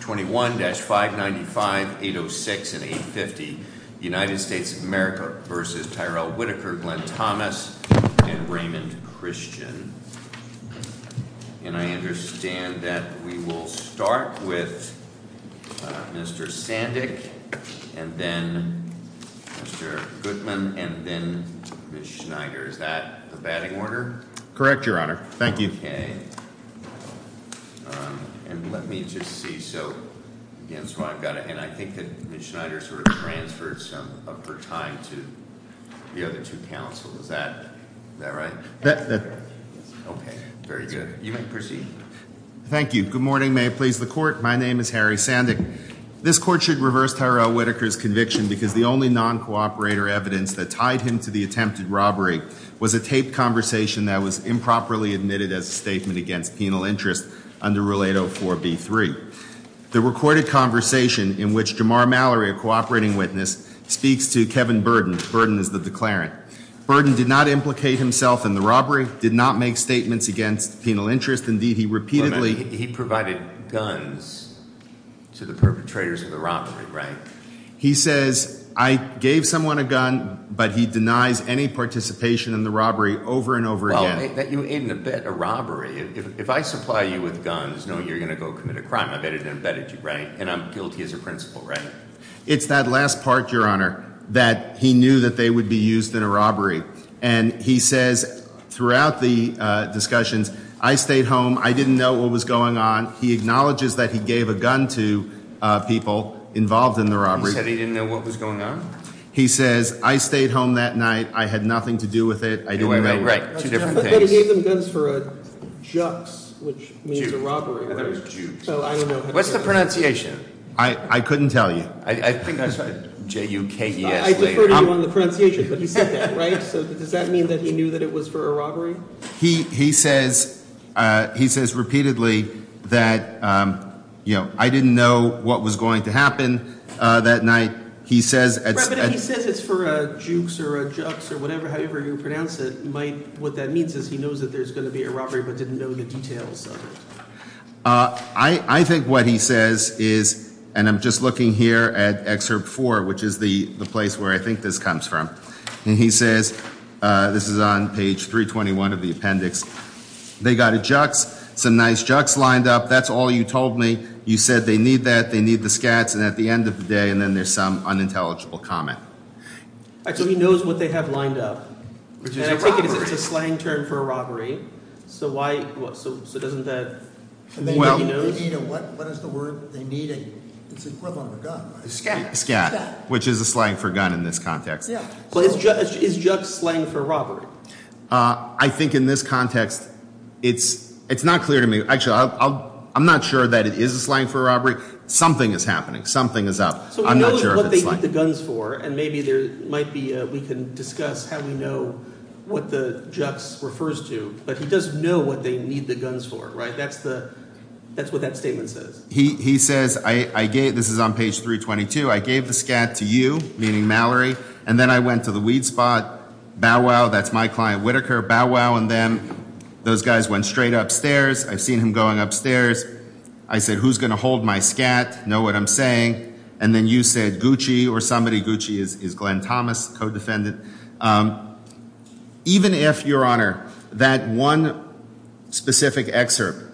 21-595-806 and 850 U.S. v. Tyrell Whitaker, Glenn Thomas, and Raymond Christian. And I understand that we will start with Mr. Sandick, and then Mr. Goodman, and then Ms. Schneider. Is that the batting order? Correct, Your Honor. Thank you. Okay. And let me just see. So, again, so I've got it. And I think that Ms. Schneider sort of transferred some of her time to the other two counsels. Is that right? That's correct. Okay. Very good. You may proceed. Thank you. Good morning. May it please the Court? My name is Harry Sandick. This Court should reverse Tyrell Whitaker's conviction because the only non-cooperator evidence that tied him to the attempted robbery was a taped conversation that was improperly admitted as a statement against penal interest under Rule 804b3. The recorded conversation in which Jamar Mallory, a cooperating witness, speaks to Kevin Burden. Burden is the declarant. Burden did not implicate himself in the robbery, did not make statements against penal interest. Indeed, he repeatedly— He says, I gave someone a gun, but he denies any participation in the robbery over and over again. It's that last part, Your Honor, that he knew that they would be used in a robbery. And he says throughout the discussions, I stayed home. I didn't know what was going on. He acknowledges that he gave a gun to people involved in the robbery. He said he didn't know what was going on? He says, I stayed home that night. I had nothing to do with it. I didn't know. Right. Two different things. But he gave them guns for a jux, which means a robbery. I thought it was jukes. What's the pronunciation? I couldn't tell you. I think I saw J-U-K-E-S later. But he said that, right? So does that mean that he knew that it was for a robbery? He says repeatedly that, you know, I didn't know what was going to happen that night. He says— Right, but if he says it's for a jukes or a jux or whatever, however you pronounce it, what that means is he knows that there's going to be a robbery but didn't know the details of it. I think what he says is, and I'm just looking here at Excerpt 4, which is the place where I think this comes from. And he says, this is on page 321 of the appendix, they got a jux, some nice jux lined up, that's all you told me. You said they need that, they need the scats, and at the end of the day, and then there's some unintelligible comment. So he knows what they have lined up, and I take it it's a slang term for a robbery. So why—so doesn't that mean that he knows? What is the word they need? It's equivalent to gun. Scat. Scat, which is a slang for gun in this context. Is jux slang for robbery? I think in this context, it's not clear to me. Actually, I'm not sure that it is a slang for robbery. And maybe there might be—we can discuss how we know what the jux refers to. But he doesn't know what they need the guns for, right? That's what that statement says. He says, I gave—this is on page 322. I gave the scat to you, meaning Mallory, and then I went to the weed spot. Bow wow, that's my client Whitaker. Bow wow, and then those guys went straight upstairs. I've seen him going upstairs. I said, who's going to hold my scat, know what I'm saying? And then you said Gucci or somebody. Gucci is Glenn Thomas, co-defendant. Even if, Your Honor, that one specific excerpt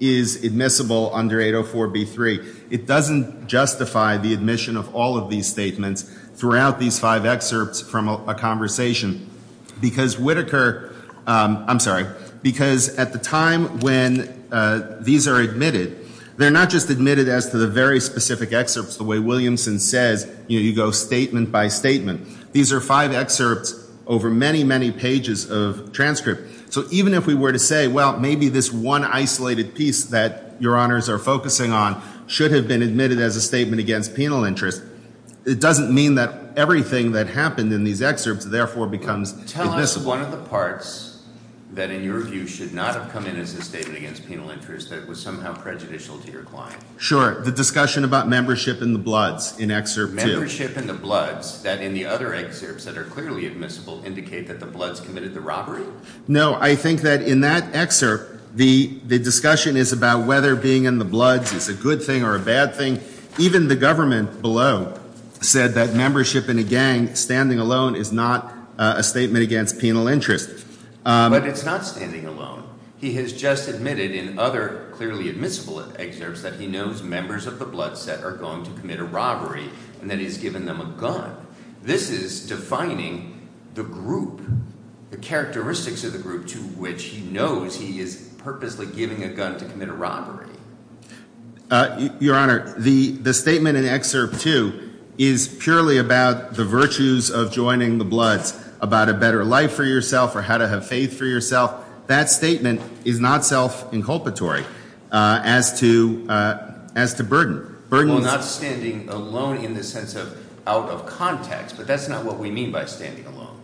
is admissible under 804b3, it doesn't justify the admission of all of these statements throughout these five excerpts from a conversation. Because Whitaker—I'm sorry. Because at the time when these are admitted, they're not just admitted as to the very specific excerpts, the way Williamson says, you go statement by statement. These are five excerpts over many, many pages of transcript. So even if we were to say, well, maybe this one isolated piece that Your Honors are focusing on should have been admitted as a statement against penal interest, it doesn't mean that everything that happened in these excerpts therefore becomes admissible. What was one of the parts that in your view should not have come in as a statement against penal interest that was somehow prejudicial to your client? Sure, the discussion about membership in the Bloods in Excerpt 2. Membership in the Bloods, that in the other excerpts that are clearly admissible, indicate that the Bloods committed the robbery? No, I think that in that excerpt, the discussion is about whether being in the Bloods is a good thing or a bad thing. Even the government below said that membership in a gang standing alone is not a statement against penal interest. But it's not standing alone. He has just admitted in other clearly admissible excerpts that he knows members of the Bloods that are going to commit a robbery and that he's given them a gun. This is defining the group, the characteristics of the group to which he knows he is purposely giving a gun to commit a robbery. Your Honor, the statement in Excerpt 2 is purely about the virtues of joining the Bloods, about a better life for yourself or how to have faith for yourself. That statement is not self-inculpatory as to burden. Well, not standing alone in the sense of out of context, but that's not what we mean by standing alone.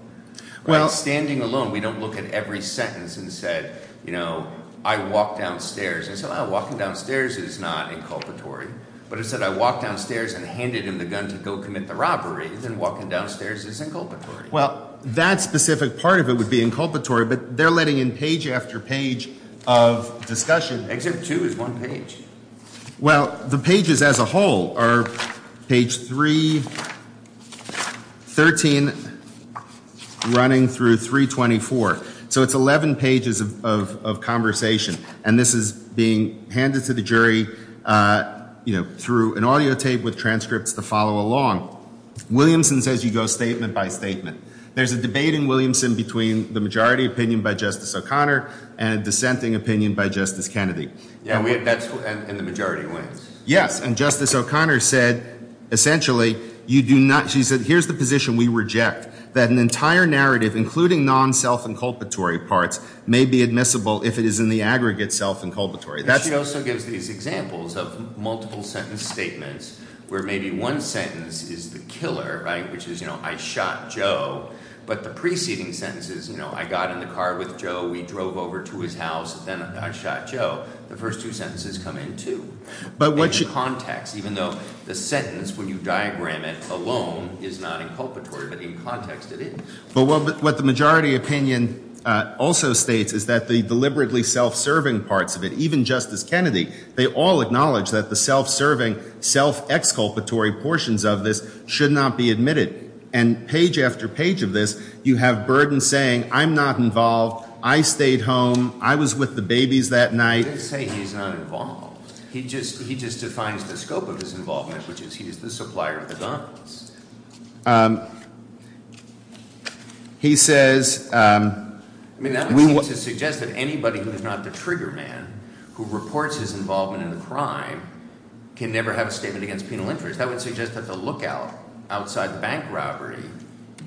When it's standing alone, we don't look at every sentence and say, you know, I walked downstairs. I said, oh, walking downstairs is not inculpatory. But if I said I walked downstairs and handed him the gun to go commit the robbery, then walking downstairs is inculpatory. Well, that specific part of it would be inculpatory, but they're letting in page after page of discussion. Excerpt 2 is one page. Well, the pages as a whole are page 313 running through 324. So it's 11 pages of conversation. And this is being handed to the jury, you know, through an audio tape with transcripts to follow along. Williamson says you go statement by statement. There's a debate in Williamson between the majority opinion by Justice O'Connor and a dissenting opinion by Justice Kennedy. And the majority wins. Yes. And Justice O'Connor said essentially you do not – she said here's the position we reject, that an entire narrative, including non-self-inculpatory parts, may be admissible if it is in the aggregate self-inculpatory. She also gives these examples of multiple sentence statements where maybe one sentence is the killer, right, which is, you know, I shot Joe. But the preceding sentence is, you know, I got in the car with Joe. We drove over to his house. Then I shot Joe. The first two sentences come in, too. But what – In context, even though the sentence when you diagram it alone is not inculpatory, but in context it is. But what the majority opinion also states is that the deliberately self-serving parts of it, even Justice Kennedy, they all acknowledge that the self-serving, self-exculpatory portions of this should not be admitted. And page after page of this you have Burden saying I'm not involved. I stayed home. I was with the babies that night. I didn't say he's not involved. He just defines the scope of his involvement, which is he is the supplier of the guns. He says – I mean that would seem to suggest that anybody who is not the trigger man who reports his involvement in the crime can never have a statement against penal interest. That would suggest that the lookout outside the bank robbery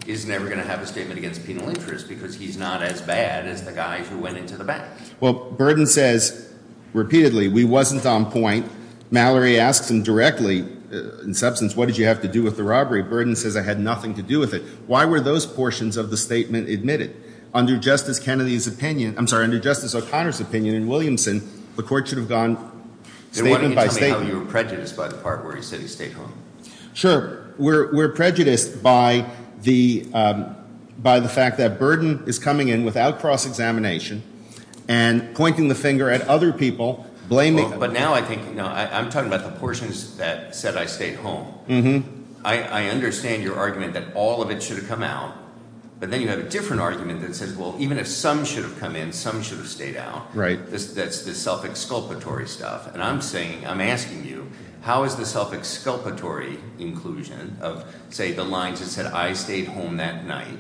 is never going to have a statement against penal interest because he's not as bad as the guy who went into the bank. Well, Burden says repeatedly we wasn't on point. Mallory asks him directly, in substance, what did you have to do with the robbery? Burden says I had nothing to do with it. Why were those portions of the statement admitted? Under Justice Kennedy's opinion – I'm sorry, under Justice O'Connor's opinion in Williamson, the court should have gone statement by statement. Tell me how you were prejudiced by the part where he said he stayed home. Sure. We're prejudiced by the fact that Burden is coming in without cross-examination and pointing the finger at other people, blaming – But now I think – I'm talking about the portions that said I stayed home. I understand your argument that all of it should have come out, but then you have a different argument that says, well, even if some should have come in, some should have stayed out. Right. That's the self-exculpatory stuff. And I'm saying – I'm asking you, how is the self-exculpatory inclusion of, say, the lines that said I stayed home that night,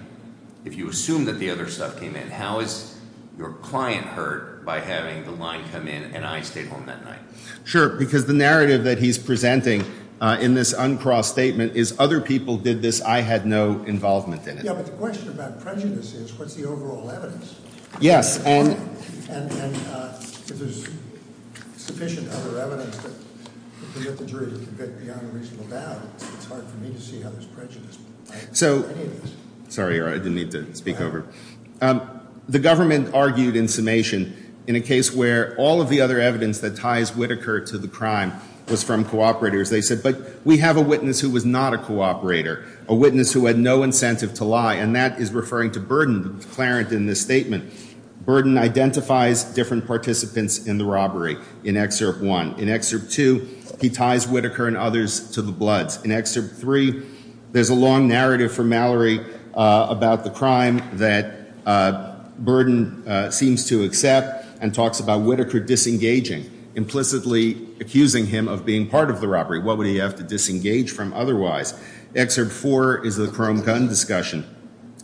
if you assume that the other stuff came in, how is your client hurt by having the line come in and I stayed home that night? Sure, because the narrative that he's presenting in this uncrossed statement is other people did this, I had no involvement in it. Yeah, but the question about prejudice is what's the overall evidence? Yes. And if there's sufficient other evidence that the jury can get beyond a reasonable doubt, it's hard for me to see how there's prejudice. So – sorry, I didn't mean to speak over. The government argued in summation in a case where all of the other evidence that ties Whitaker to the crime was from cooperators. They said, but we have a witness who was not a cooperator, a witness who had no incentive to lie, and that is referring to Burden, the declarant in this statement. Burden identifies different participants in the robbery in Excerpt 1. In Excerpt 2, he ties Whitaker and others to the bloods. In Excerpt 3, there's a long narrative from Mallory about the crime that Burden seems to accept and talks about Whitaker disengaging, implicitly accusing him of being part of the robbery. What would he have to disengage from otherwise? Excerpt 4 is the chrome gun discussion.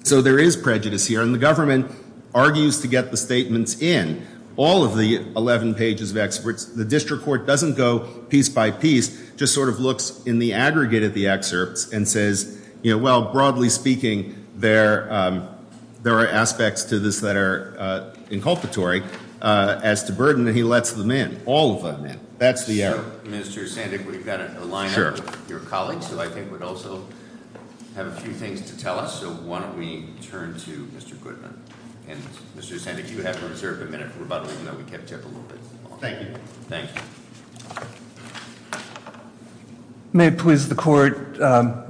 So there is prejudice here, and the government argues to get the statements in. All of the 11 pages of excerpts, the district court doesn't go piece by piece, just sort of looks in the aggregate of the excerpts and says, you know, well, broadly speaking, there are aspects to this that are inculpatory as to Burden, and he lets them in. All of them in. That's the error. Mr. Sandick, we've got a line up of your colleagues who I think would also have a few things to tell us. So why don't we turn to Mr. Goodman. And Mr. Sandick, you have to observe a minute of rebuttal, even though we kept you up a little bit. Thank you. Thank you. May it please the court,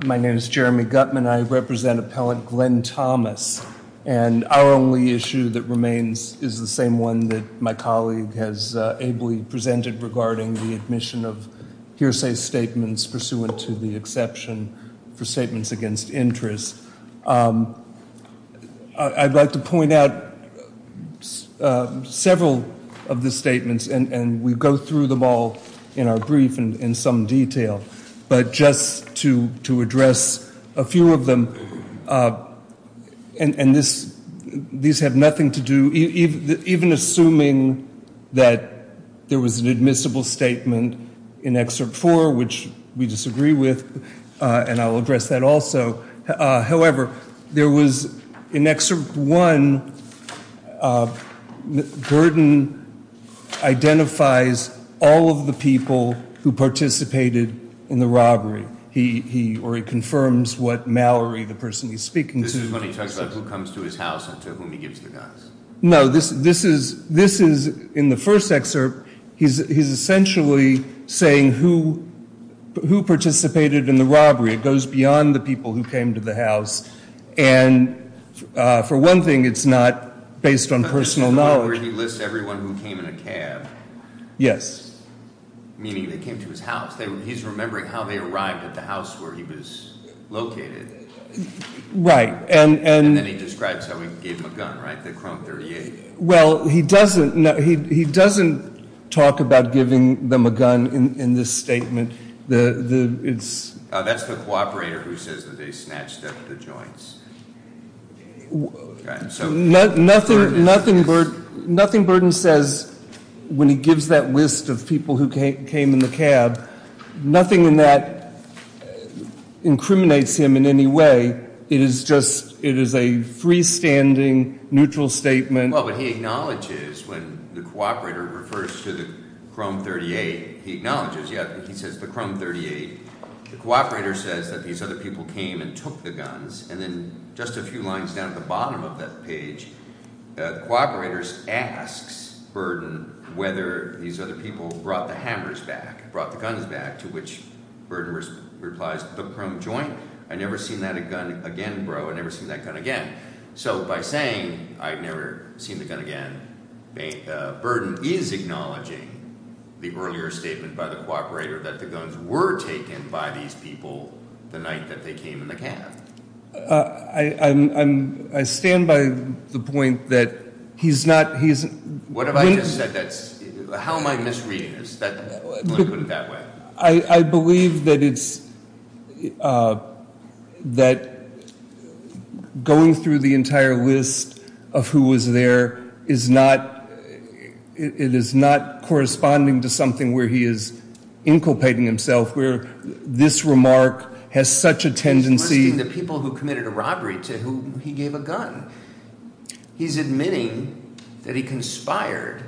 my name is Jeremy Gutman. I represent Appellant Glenn Thomas, and our only issue that remains is the same one that my colleague has ably presented regarding the admission of hearsay statements pursuant to the exception for statements against interest. I'd like to point out several of the statements, and we go through them all in our brief in some detail. But just to address a few of them, and these have nothing to do, even assuming that there was an admissible statement in Excerpt 4, which we disagree with, and I'll address that also. However, there was, in Excerpt 1, Burden identifies all of the people who participated in the robbery, or he confirms what Mallory, the person he's speaking to- This is when he talks about who comes to his house and to whom he gives the guns. No, this is, in the first excerpt, he's essentially saying who participated in the robbery. It goes beyond the people who came to the house. And for one thing, it's not based on personal knowledge. He lists everyone who came in a cab. Yes. Meaning they came to his house. He's remembering how they arrived at the house where he was located. Right, and- And then he describes how he gave them a gun, right, the Krone 38? Well, he doesn't talk about giving them a gun in this statement. That's the cooperator who says that they snatched up the joints. Nothing Burden says when he gives that list of people who came in the cab. Nothing in that incriminates him in any way. It is just, it is a freestanding, neutral statement. Well, but he acknowledges when the cooperator refers to the Krone 38, he acknowledges, yeah, he says the Krone 38. The cooperator says that these other people came and took the guns, and then just a few lines down at the bottom of that page, the cooperator asks Burden whether these other people brought the hammers back, brought the guns back, to which Burden replies, the Krone joint? I never seen that gun again, bro. I never seen that gun again. So by saying I've never seen the gun again, Burden is acknowledging the earlier statement by the cooperator that the guns were taken by these people the night that they came in the cab. I stand by the point that he's not, he's- What have I just said that's, how am I misreading this? Put it that way. I believe that it's, that going through the entire list of who was there is not, it is not corresponding to something where he is inculpating himself, where this remark has such a tendency- He's questioning the people who committed a robbery to whom he gave a gun. He's admitting that he conspired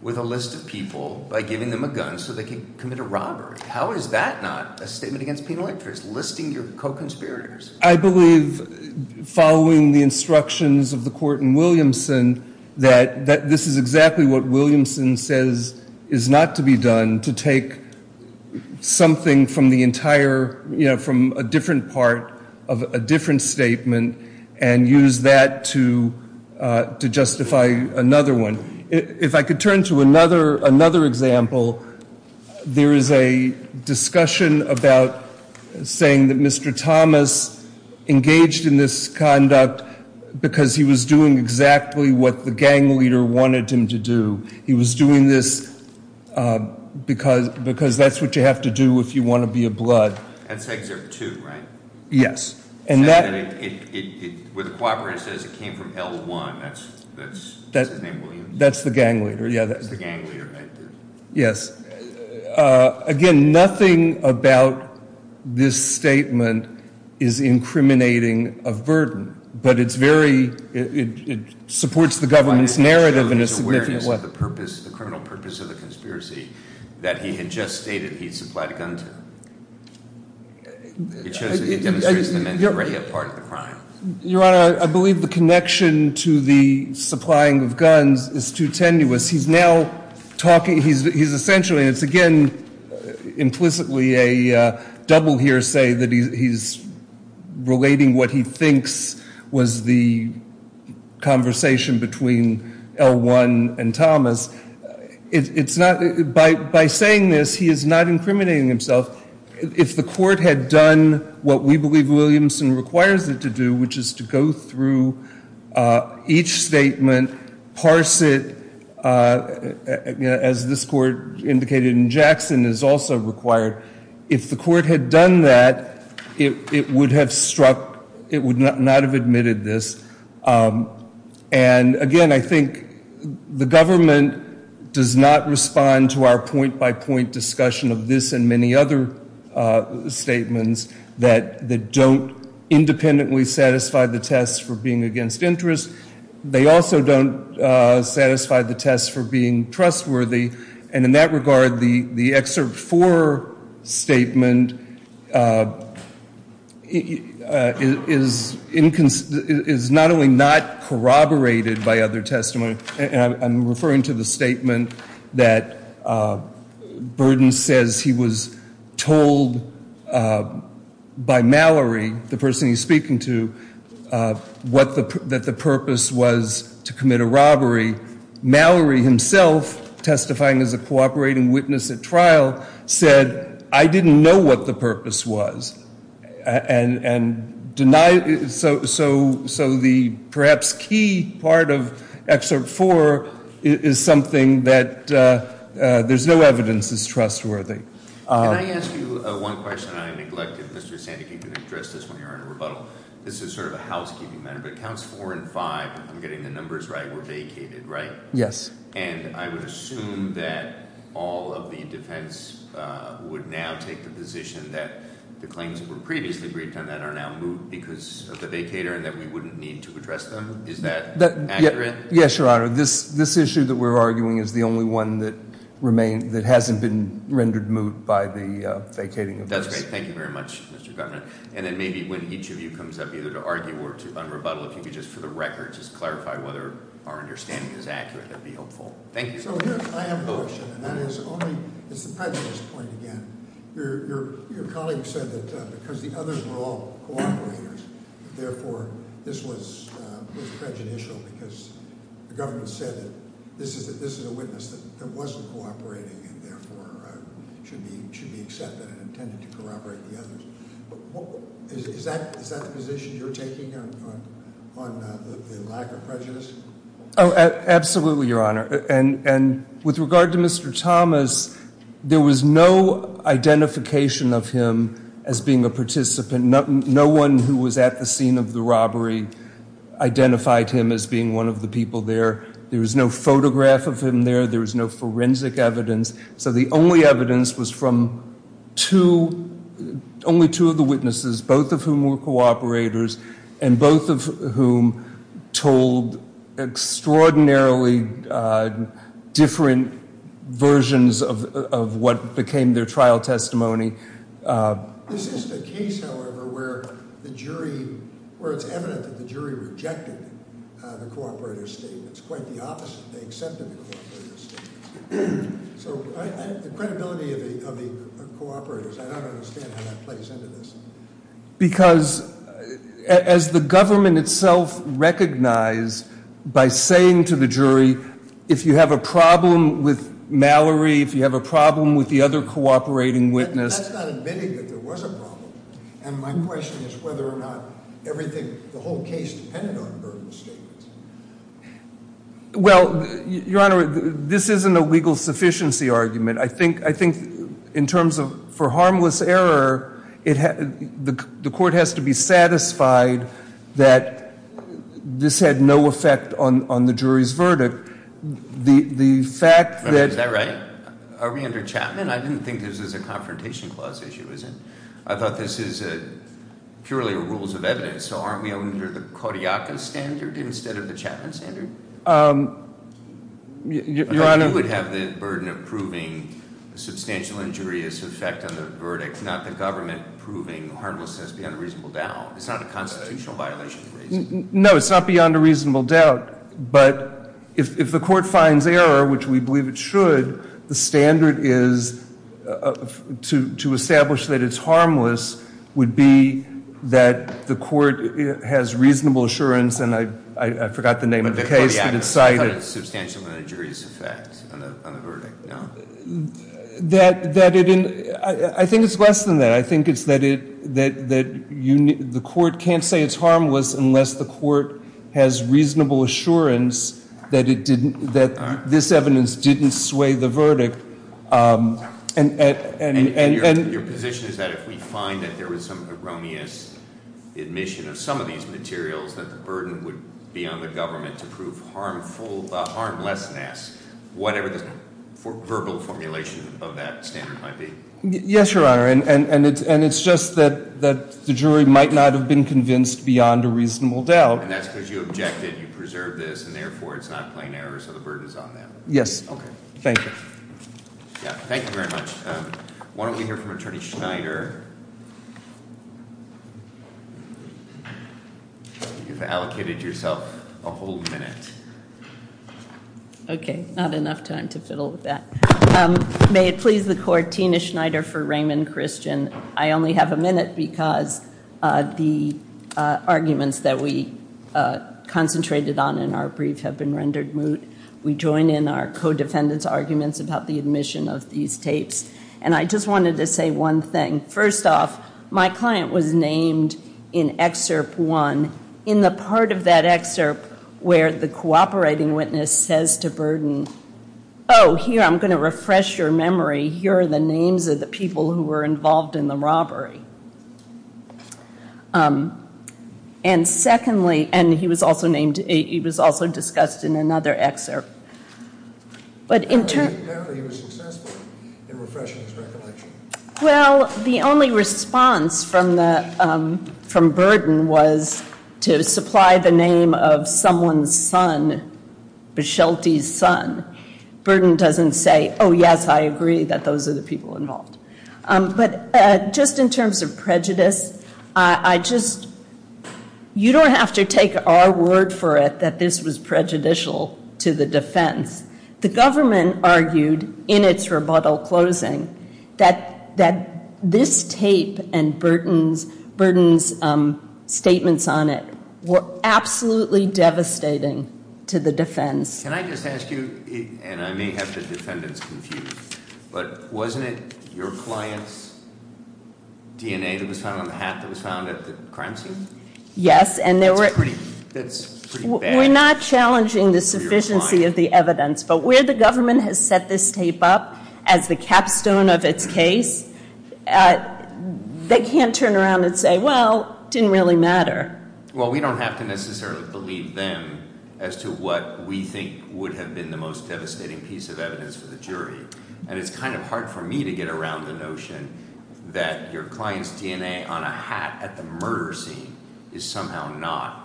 with a list of people by giving them a gun so they could commit a robbery. How is that not a statement against a penal interest, listing your co-conspirators? I believe following the instructions of the court in Williamson that this is exactly what Williamson says is not to be done, to take something from the entire, you know, from a different part of a different statement and use that to justify another one. If I could turn to another example, there is a discussion about saying that Mr. Thomas engaged in this conduct because he was doing exactly what the gang leader wanted him to do. He was doing this because that's what you have to do if you want to be a blood. That's Excerpt 2, right? Yes. And that- Where the co-operative says it came from L1, that's his name, Williamson? That's the gang leader, yeah. That's the gang leader. Yes. Again, nothing about this statement is incriminating of burden, but it's very, it supports the government's narrative- The purpose, the criminal purpose of the conspiracy that he had just stated he'd supplied a gun to. It shows that he demonstrates the mandatory part of the crime. Your Honor, I believe the connection to the supplying of guns is too tenuous. He's now talking, he's essentially, and it's again implicitly a double hearsay that he's relating what he thinks was the conversation between L1 and Thomas. It's not, by saying this, he is not incriminating himself. If the court had done what we believe Williamson requires it to do, which is to go through each statement, parse it, as this court indicated in Jackson, is also required. If the court had done that, it would have struck, it would not have admitted this. Again, I think the government does not respond to our point-by-point discussion of this and many other statements that don't independently satisfy the test for being against interest. They also don't satisfy the test for being trustworthy. And in that regard, the Excerpt 4 statement is not only not corroborated by other testimony, and I'm referring to the statement that Burden says he was told by Mallory, the person he's speaking to, that the purpose was to commit a robbery. Mallory himself, testifying as a cooperating witness at trial, said, I didn't know what the purpose was. And denied, so the perhaps key part of Excerpt 4 is something that there's no evidence is trustworthy. Can I ask you one question? I neglected, Mr. Sandeke, you can address this when you're in a rebuttal. This is sort of a housekeeping matter, but Counts 4 and 5, if I'm getting the numbers right, were vacated, right? Yes. And I would assume that all of the defense would now take the position that the claims that were previously briefed on that are now moot because of the vacator and that we wouldn't need to address them. Is that accurate? Yes, Your Honor. This issue that we're arguing is the only one that hasn't been rendered moot by the vacating. That's great. Thank you very much, Mr. Governor. And then maybe when each of you comes up either to argue or to un-rebuttal, if you could just, for the record, just clarify whether our understanding is accurate, that would be helpful. Thank you. I have a question, and that is the prejudice point again. Your colleague said that because the others were all cooperators, therefore, this was prejudicial because the government said that this is a witness that wasn't cooperating and therefore should be accepted and intended to cooperate with the others. Is that the position you're taking on the lack of prejudice? Oh, absolutely, Your Honor. And with regard to Mr. Thomas, there was no identification of him as being a participant. No one who was at the scene of the robbery identified him as being one of the people there. There was no photograph of him there. There was no forensic evidence. So the only evidence was from two, only two of the witnesses, both of whom were cooperators and both of whom told extraordinarily different versions of what became their trial testimony. This is the case, however, where the jury, where it's evident that the jury rejected the cooperator's statement. It's quite the opposite. They accepted the cooperator's statement. So the credibility of the cooperators, I don't understand how that plays into this. Because as the government itself recognized by saying to the jury, if you have a problem with Mallory, if you have a problem with the other cooperating witness- That's not admitting that there was a problem. And my question is whether or not everything, the whole case depended on Burden's statement. Well, Your Honor, this isn't a legal sufficiency argument. I think in terms of for harmless error, the court has to be satisfied that this had no effect on the jury's verdict. The fact that- Is that right? Are we under Chapman? I didn't think this was a confrontation clause issue, is it? I thought this is purely rules of evidence. So aren't we under the Kodiak standard instead of the Chapman standard? Your Honor- I thought you would have the burden of proving a substantial injurious effect on the verdict, not the government proving harmlessness beyond a reasonable doubt. It's not a constitutional violation of reason. No, it's not beyond a reasonable doubt. But if the court finds error, which we believe it should, the standard is to establish that it's harmless would be that the court has reasonable assurance, and I forgot the name of the case, but it cited- Kodiak had a substantial injurious effect on the verdict, no? I think it's less than that. I think it's that the court can't say it's harmless unless the court has reasonable assurance that this evidence didn't sway the verdict. And your position is that if we find that there was some erroneous admission of some of these materials, that the burden would be on the government to prove harmlessness, whatever the verbal formulation of that standard might be? Yes, Your Honor, and it's just that the jury might not have been convinced beyond a reasonable doubt. And that's because you objected, you preserved this, and therefore it's not plain error, so the burden is on them. Yes. Thank you. Thank you very much. Why don't we hear from Attorney Schneider? You've allocated yourself a whole minute. Okay, not enough time to fiddle with that. May it please the court, Tina Schneider for Raymond Christian. I only have a minute because the arguments that we concentrated on in our brief have been rendered moot. We join in our co-defendants' arguments about the admission of these tapes. And I just wanted to say one thing. First off, my client was named in Excerpt 1 in the part of that excerpt where the cooperating witness says to Burden, oh, here, I'm going to refresh your memory. Here are the names of the people who were involved in the robbery. And secondly, and he was also named, he was also discussed in another excerpt. Apparently he was successful in refreshing his recollection. Well, the only response from Burden was to supply the name of someone's son, Bichelti's son. Burden doesn't say, oh, yes, I agree that those are the people involved. But just in terms of prejudice, I just, you don't have to take our word for it that this was prejudicial to the defense. The government argued in its rebuttal closing that this tape and Burden's statements on it were absolutely devastating to the defense. Can I just ask you, and I may have the defendants confused, but wasn't it your client's DNA that was found on the hat that was found at the crime scene? Yes. That's pretty bad. We're not challenging the sufficiency of the evidence. But where the government has set this tape up as the capstone of its case, they can't turn around and say, well, it didn't really matter. Well, we don't have to necessarily believe them as to what we think would have been the most devastating piece of evidence for the jury. And it's kind of hard for me to get around the notion that your client's DNA on a hat at the murder scene is somehow not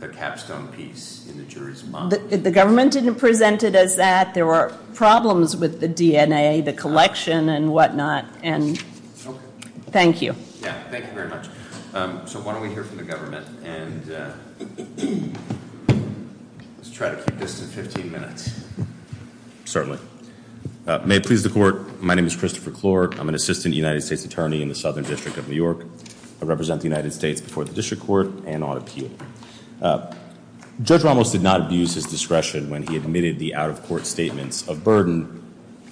the capstone piece in the jury's mind. The government didn't present it as that. There were problems with the DNA, the collection and whatnot. And thank you. Yeah, thank you very much. So why don't we hear from the government and let's try to keep this to 15 minutes. Certainly. May it please the court, my name is Christopher Clork. I'm an assistant United States attorney in the Southern District of New York. I represent the United States before the district court and on appeal. Judge Ramos did not abuse his discretion when he admitted the out-of-court statements of Burden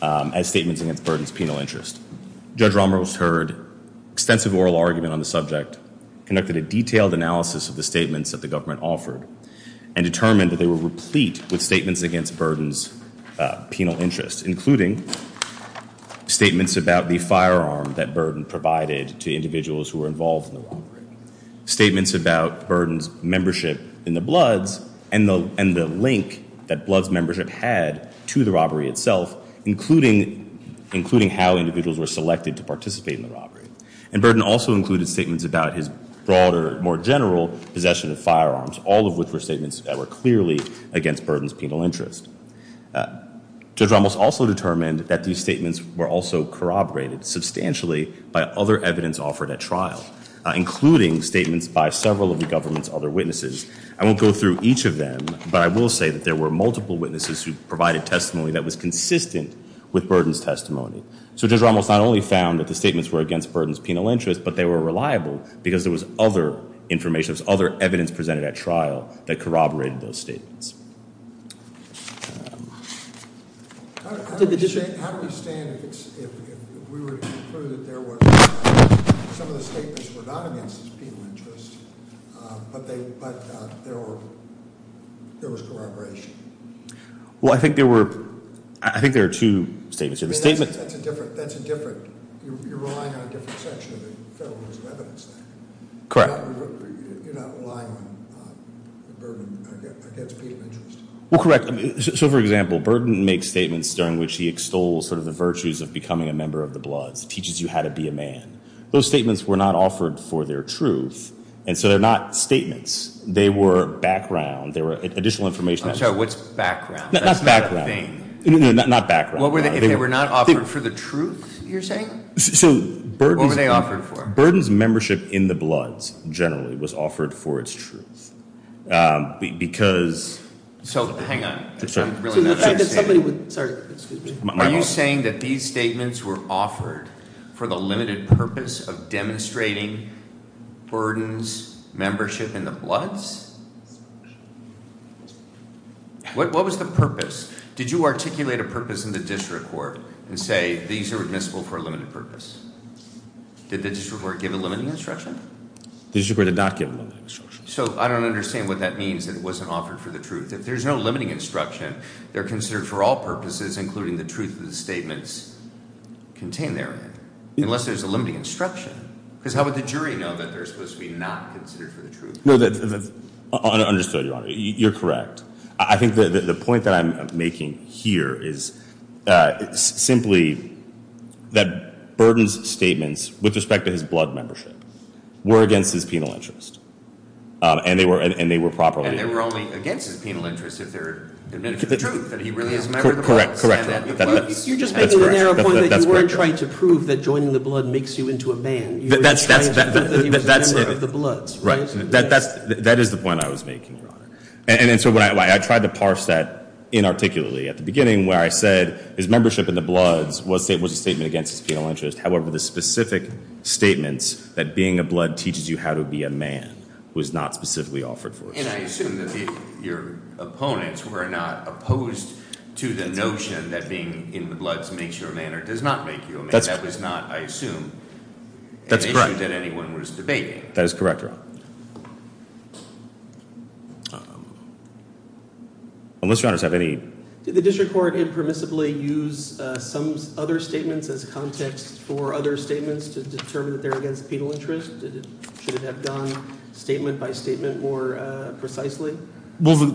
as statements against Burden's penal interest. Judge Ramos heard extensive oral argument on the subject, conducted a detailed analysis of the statements that the government offered, and determined that they were replete with statements against Burden's penal interest, including statements about the firearm that Burden provided to individuals who were involved in the robbery, statements about Burden's membership in the Bloods, and the link that Bloods' membership had to the robbery itself, including how individuals were selected to participate in the robbery. And Burden also included statements about his broader, more general possession of firearms, all of which were statements that were clearly against Burden's penal interest. Judge Ramos also determined that these statements were also corroborated substantially by other evidence offered at trial, including statements by several of the government's other witnesses. I won't go through each of them, but I will say that there were multiple witnesses who provided testimony that was consistent with Burden's testimony. So Judge Ramos not only found that the statements were against Burden's penal interest, but they were reliable because there was other information, there was other evidence presented at trial that corroborated those statements. How do we stand if we were to conclude that some of the statements were not against his penal interest, but there was corroboration? Well, I think there were two statements. That's a different – you're relying on a different section of the Federal Rules of Evidence there. Correct. You're not relying on Burden against penal interest. Well, correct. So, for example, Burden makes statements during which he extols sort of the virtues of becoming a member of the Bloods, teaches you how to be a man. Those statements were not offered for their truth, and so they're not statements. They were background. They were additional information. I'm sorry. What's background? That's background. That's not a thing. No, not background. If they were not offered for the truth, you're saying? So Burden's- What were they offered for? Burden's membership in the Bloods, generally, was offered for its truth because- So, hang on. I'm really not understanding. Sorry, excuse me. Are you saying that these statements were offered for the limited purpose of demonstrating Burden's membership in the Bloods? What was the purpose? Did you articulate a purpose in the district court and say these are admissible for a limited purpose? Did the district court give a limiting instruction? The district court did not give a limiting instruction. So, I don't understand what that means that it wasn't offered for the truth. If there's no limiting instruction, they're considered for all purposes, including the truth of the statements contained therein, unless there's a limiting instruction. Because how would the jury know that they're supposed to be not considered for the truth? No, that's understood, Your Honor. You're correct. I think the point that I'm making here is simply that Burden's statements, with respect to his Blood membership, were against his penal interest. And they were properly- And they were only against his penal interest if they're admitting the truth, that he really is a member of the Bloods. Correct. You're just making the narrow point that you weren't trying to prove that joining the Blood makes you into a man. You were trying to prove that he was a member of the Bloods. Right. That is the point I was making, Your Honor. And so, I tried to parse that inarticulately at the beginning, where I said his membership in the Bloods was a statement against his penal interest. However, the specific statements that being a Blood teaches you how to be a man was not specifically offered for the truth. And I assume that your opponents were not opposed to the notion that being in the Bloods makes you a man or does not make you a man. That was not, I assume, an issue that anyone was debating. That is correct, Your Honor. Unless, Your Honors, you have any- Did the district court impermissibly use some other statements as context for other statements to determine that they're against penal interest? Should it have gone statement by statement more precisely? Well,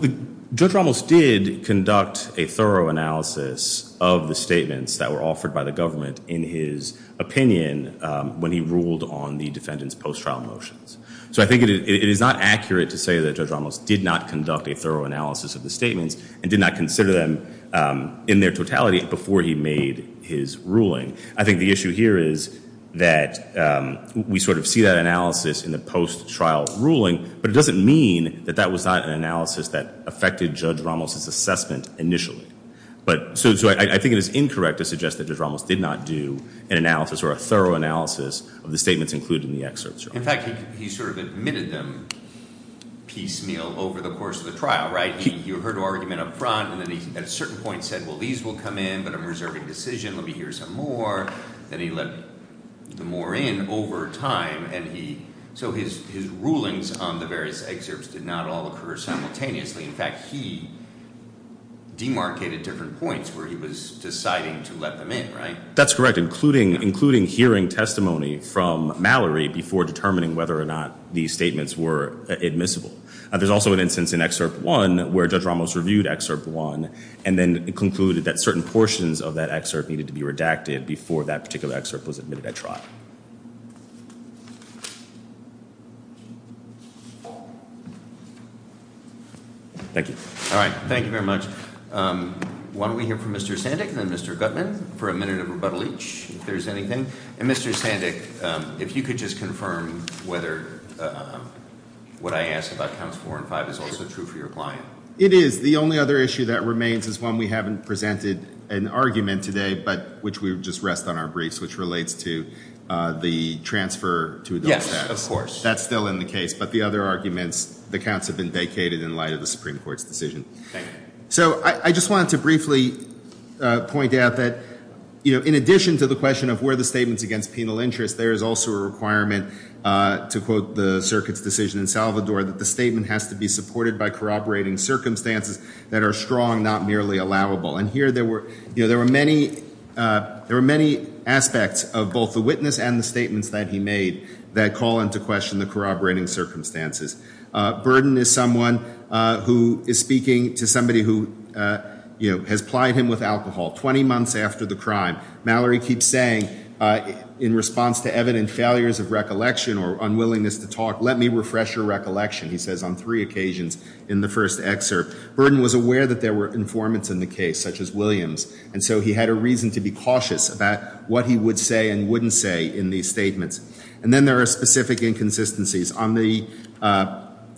Judge Ramos did conduct a thorough analysis of the statements that were offered by the government in his opinion when he ruled on the defendant's post-trial motions. So, I think it is not accurate to say that Judge Ramos did not conduct a thorough analysis of the statements and did not consider them in their totality before he made his ruling. I think the issue here is that we sort of see that analysis in the post-trial ruling, but it doesn't mean that that was not an analysis that affected Judge Ramos' assessment initially. So, I think it is incorrect to suggest that Judge Ramos did not do an analysis or a thorough analysis of the statements included in the excerpts, Your Honor. In fact, he sort of admitted them piecemeal over the course of the trial, right? He heard an argument up front, and then he at a certain point said, well, these will come in, but I'm reserving a decision. Let me hear some more. Then he let the more in over time, and he- So, his rulings on the various excerpts did not all occur simultaneously. In fact, he demarcated different points where he was deciding to let them in, right? That's correct, including hearing testimony from Mallory before determining whether or not these statements were admissible. There's also an instance in Excerpt 1 where Judge Ramos reviewed Excerpt 1 and then concluded that certain portions of that excerpt needed to be redacted before that particular excerpt was admitted at trial. Thank you. All right. Thank you very much. Why don't we hear from Mr. Sandik and then Mr. Gutman for a minute of rebuttal each, if there's anything. And Mr. Sandik, if you could just confirm whether what I asked about Counts 4 and 5 is also true for your client. It is. The only other issue that remains is one we haven't presented an argument today, which would just rest on our briefs, which relates to the transfer to adult status. Yes, of course. That's still in the case, but the other arguments, the counts have been vacated in light of the Supreme Court's decision. Thank you. So I just wanted to briefly point out that in addition to the question of were the statements against penal interest, there is also a requirement to quote the circuit's decision in Salvador that the statement has to be supported by corroborating circumstances that are strong, not merely allowable. And here there were many aspects of both the witness and the statements that he made that call into question the corroborating circumstances. Burden is someone who is speaking to somebody who has plied him with alcohol 20 months after the crime. Mallory keeps saying in response to evident failures of recollection or unwillingness to talk, let me refresh your recollection, he says on three occasions in the first excerpt. Burden was aware that there were informants in the case, such as Williams, and so he had a reason to be cautious about what he would say and wouldn't say in these statements. And then there are specific inconsistencies.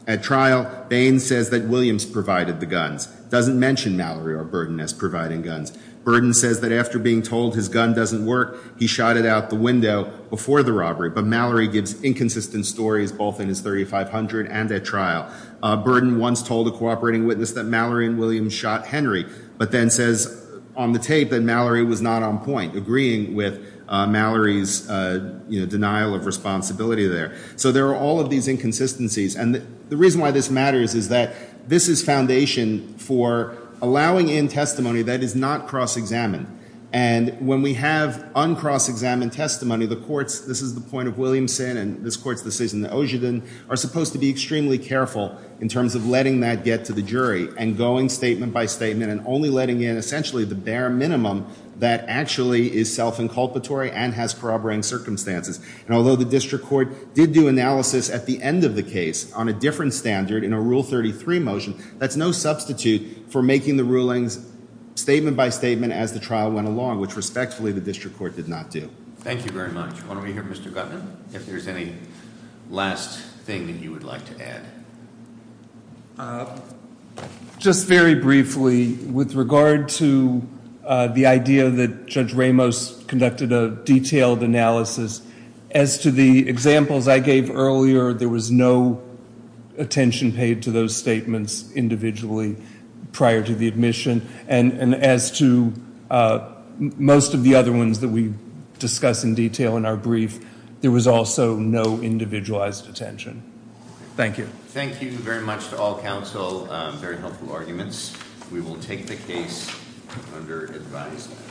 At trial, Baines says that Williams provided the guns. Doesn't mention Mallory or Burden as providing guns. Burden says that after being told his gun doesn't work, he shot it out the window before the robbery. But Mallory gives inconsistent stories, both in his 3500 and at trial. Burden once told a cooperating witness that Mallory and Williams shot Henry, but then says on the tape that Mallory was not on point, agreeing with Mallory's denial of responsibility there. So there are all of these inconsistencies. And the reason why this matters is that this is foundation for allowing in testimony that is not cross-examined. And when we have uncross-examined testimony, the courts, this is the point of Williamson and this court's decision, the Ogden, are supposed to be extremely careful in terms of letting that get to the jury and going statement by statement and only letting in essentially the bare minimum that actually is self-inculpatory and has corroborating circumstances. And although the district court did do analysis at the end of the case on a different standard in a Rule 33 motion, that's no substitute for making the rulings statement by statement as the trial went along, which respectfully the district court did not do. Thank you very much. Why don't we hear Mr. Gutman, if there's any last thing that you would like to add. Just very briefly, with regard to the idea that Judge Ramos conducted a detailed analysis, as to the examples I gave earlier, there was no attention paid to those statements individually prior to the admission. And as to most of the other ones that we discuss in detail in our brief, there was also no individualized attention. Thank you. Thank you very much to all counsel. Very helpful arguments. We will take the case under advisement.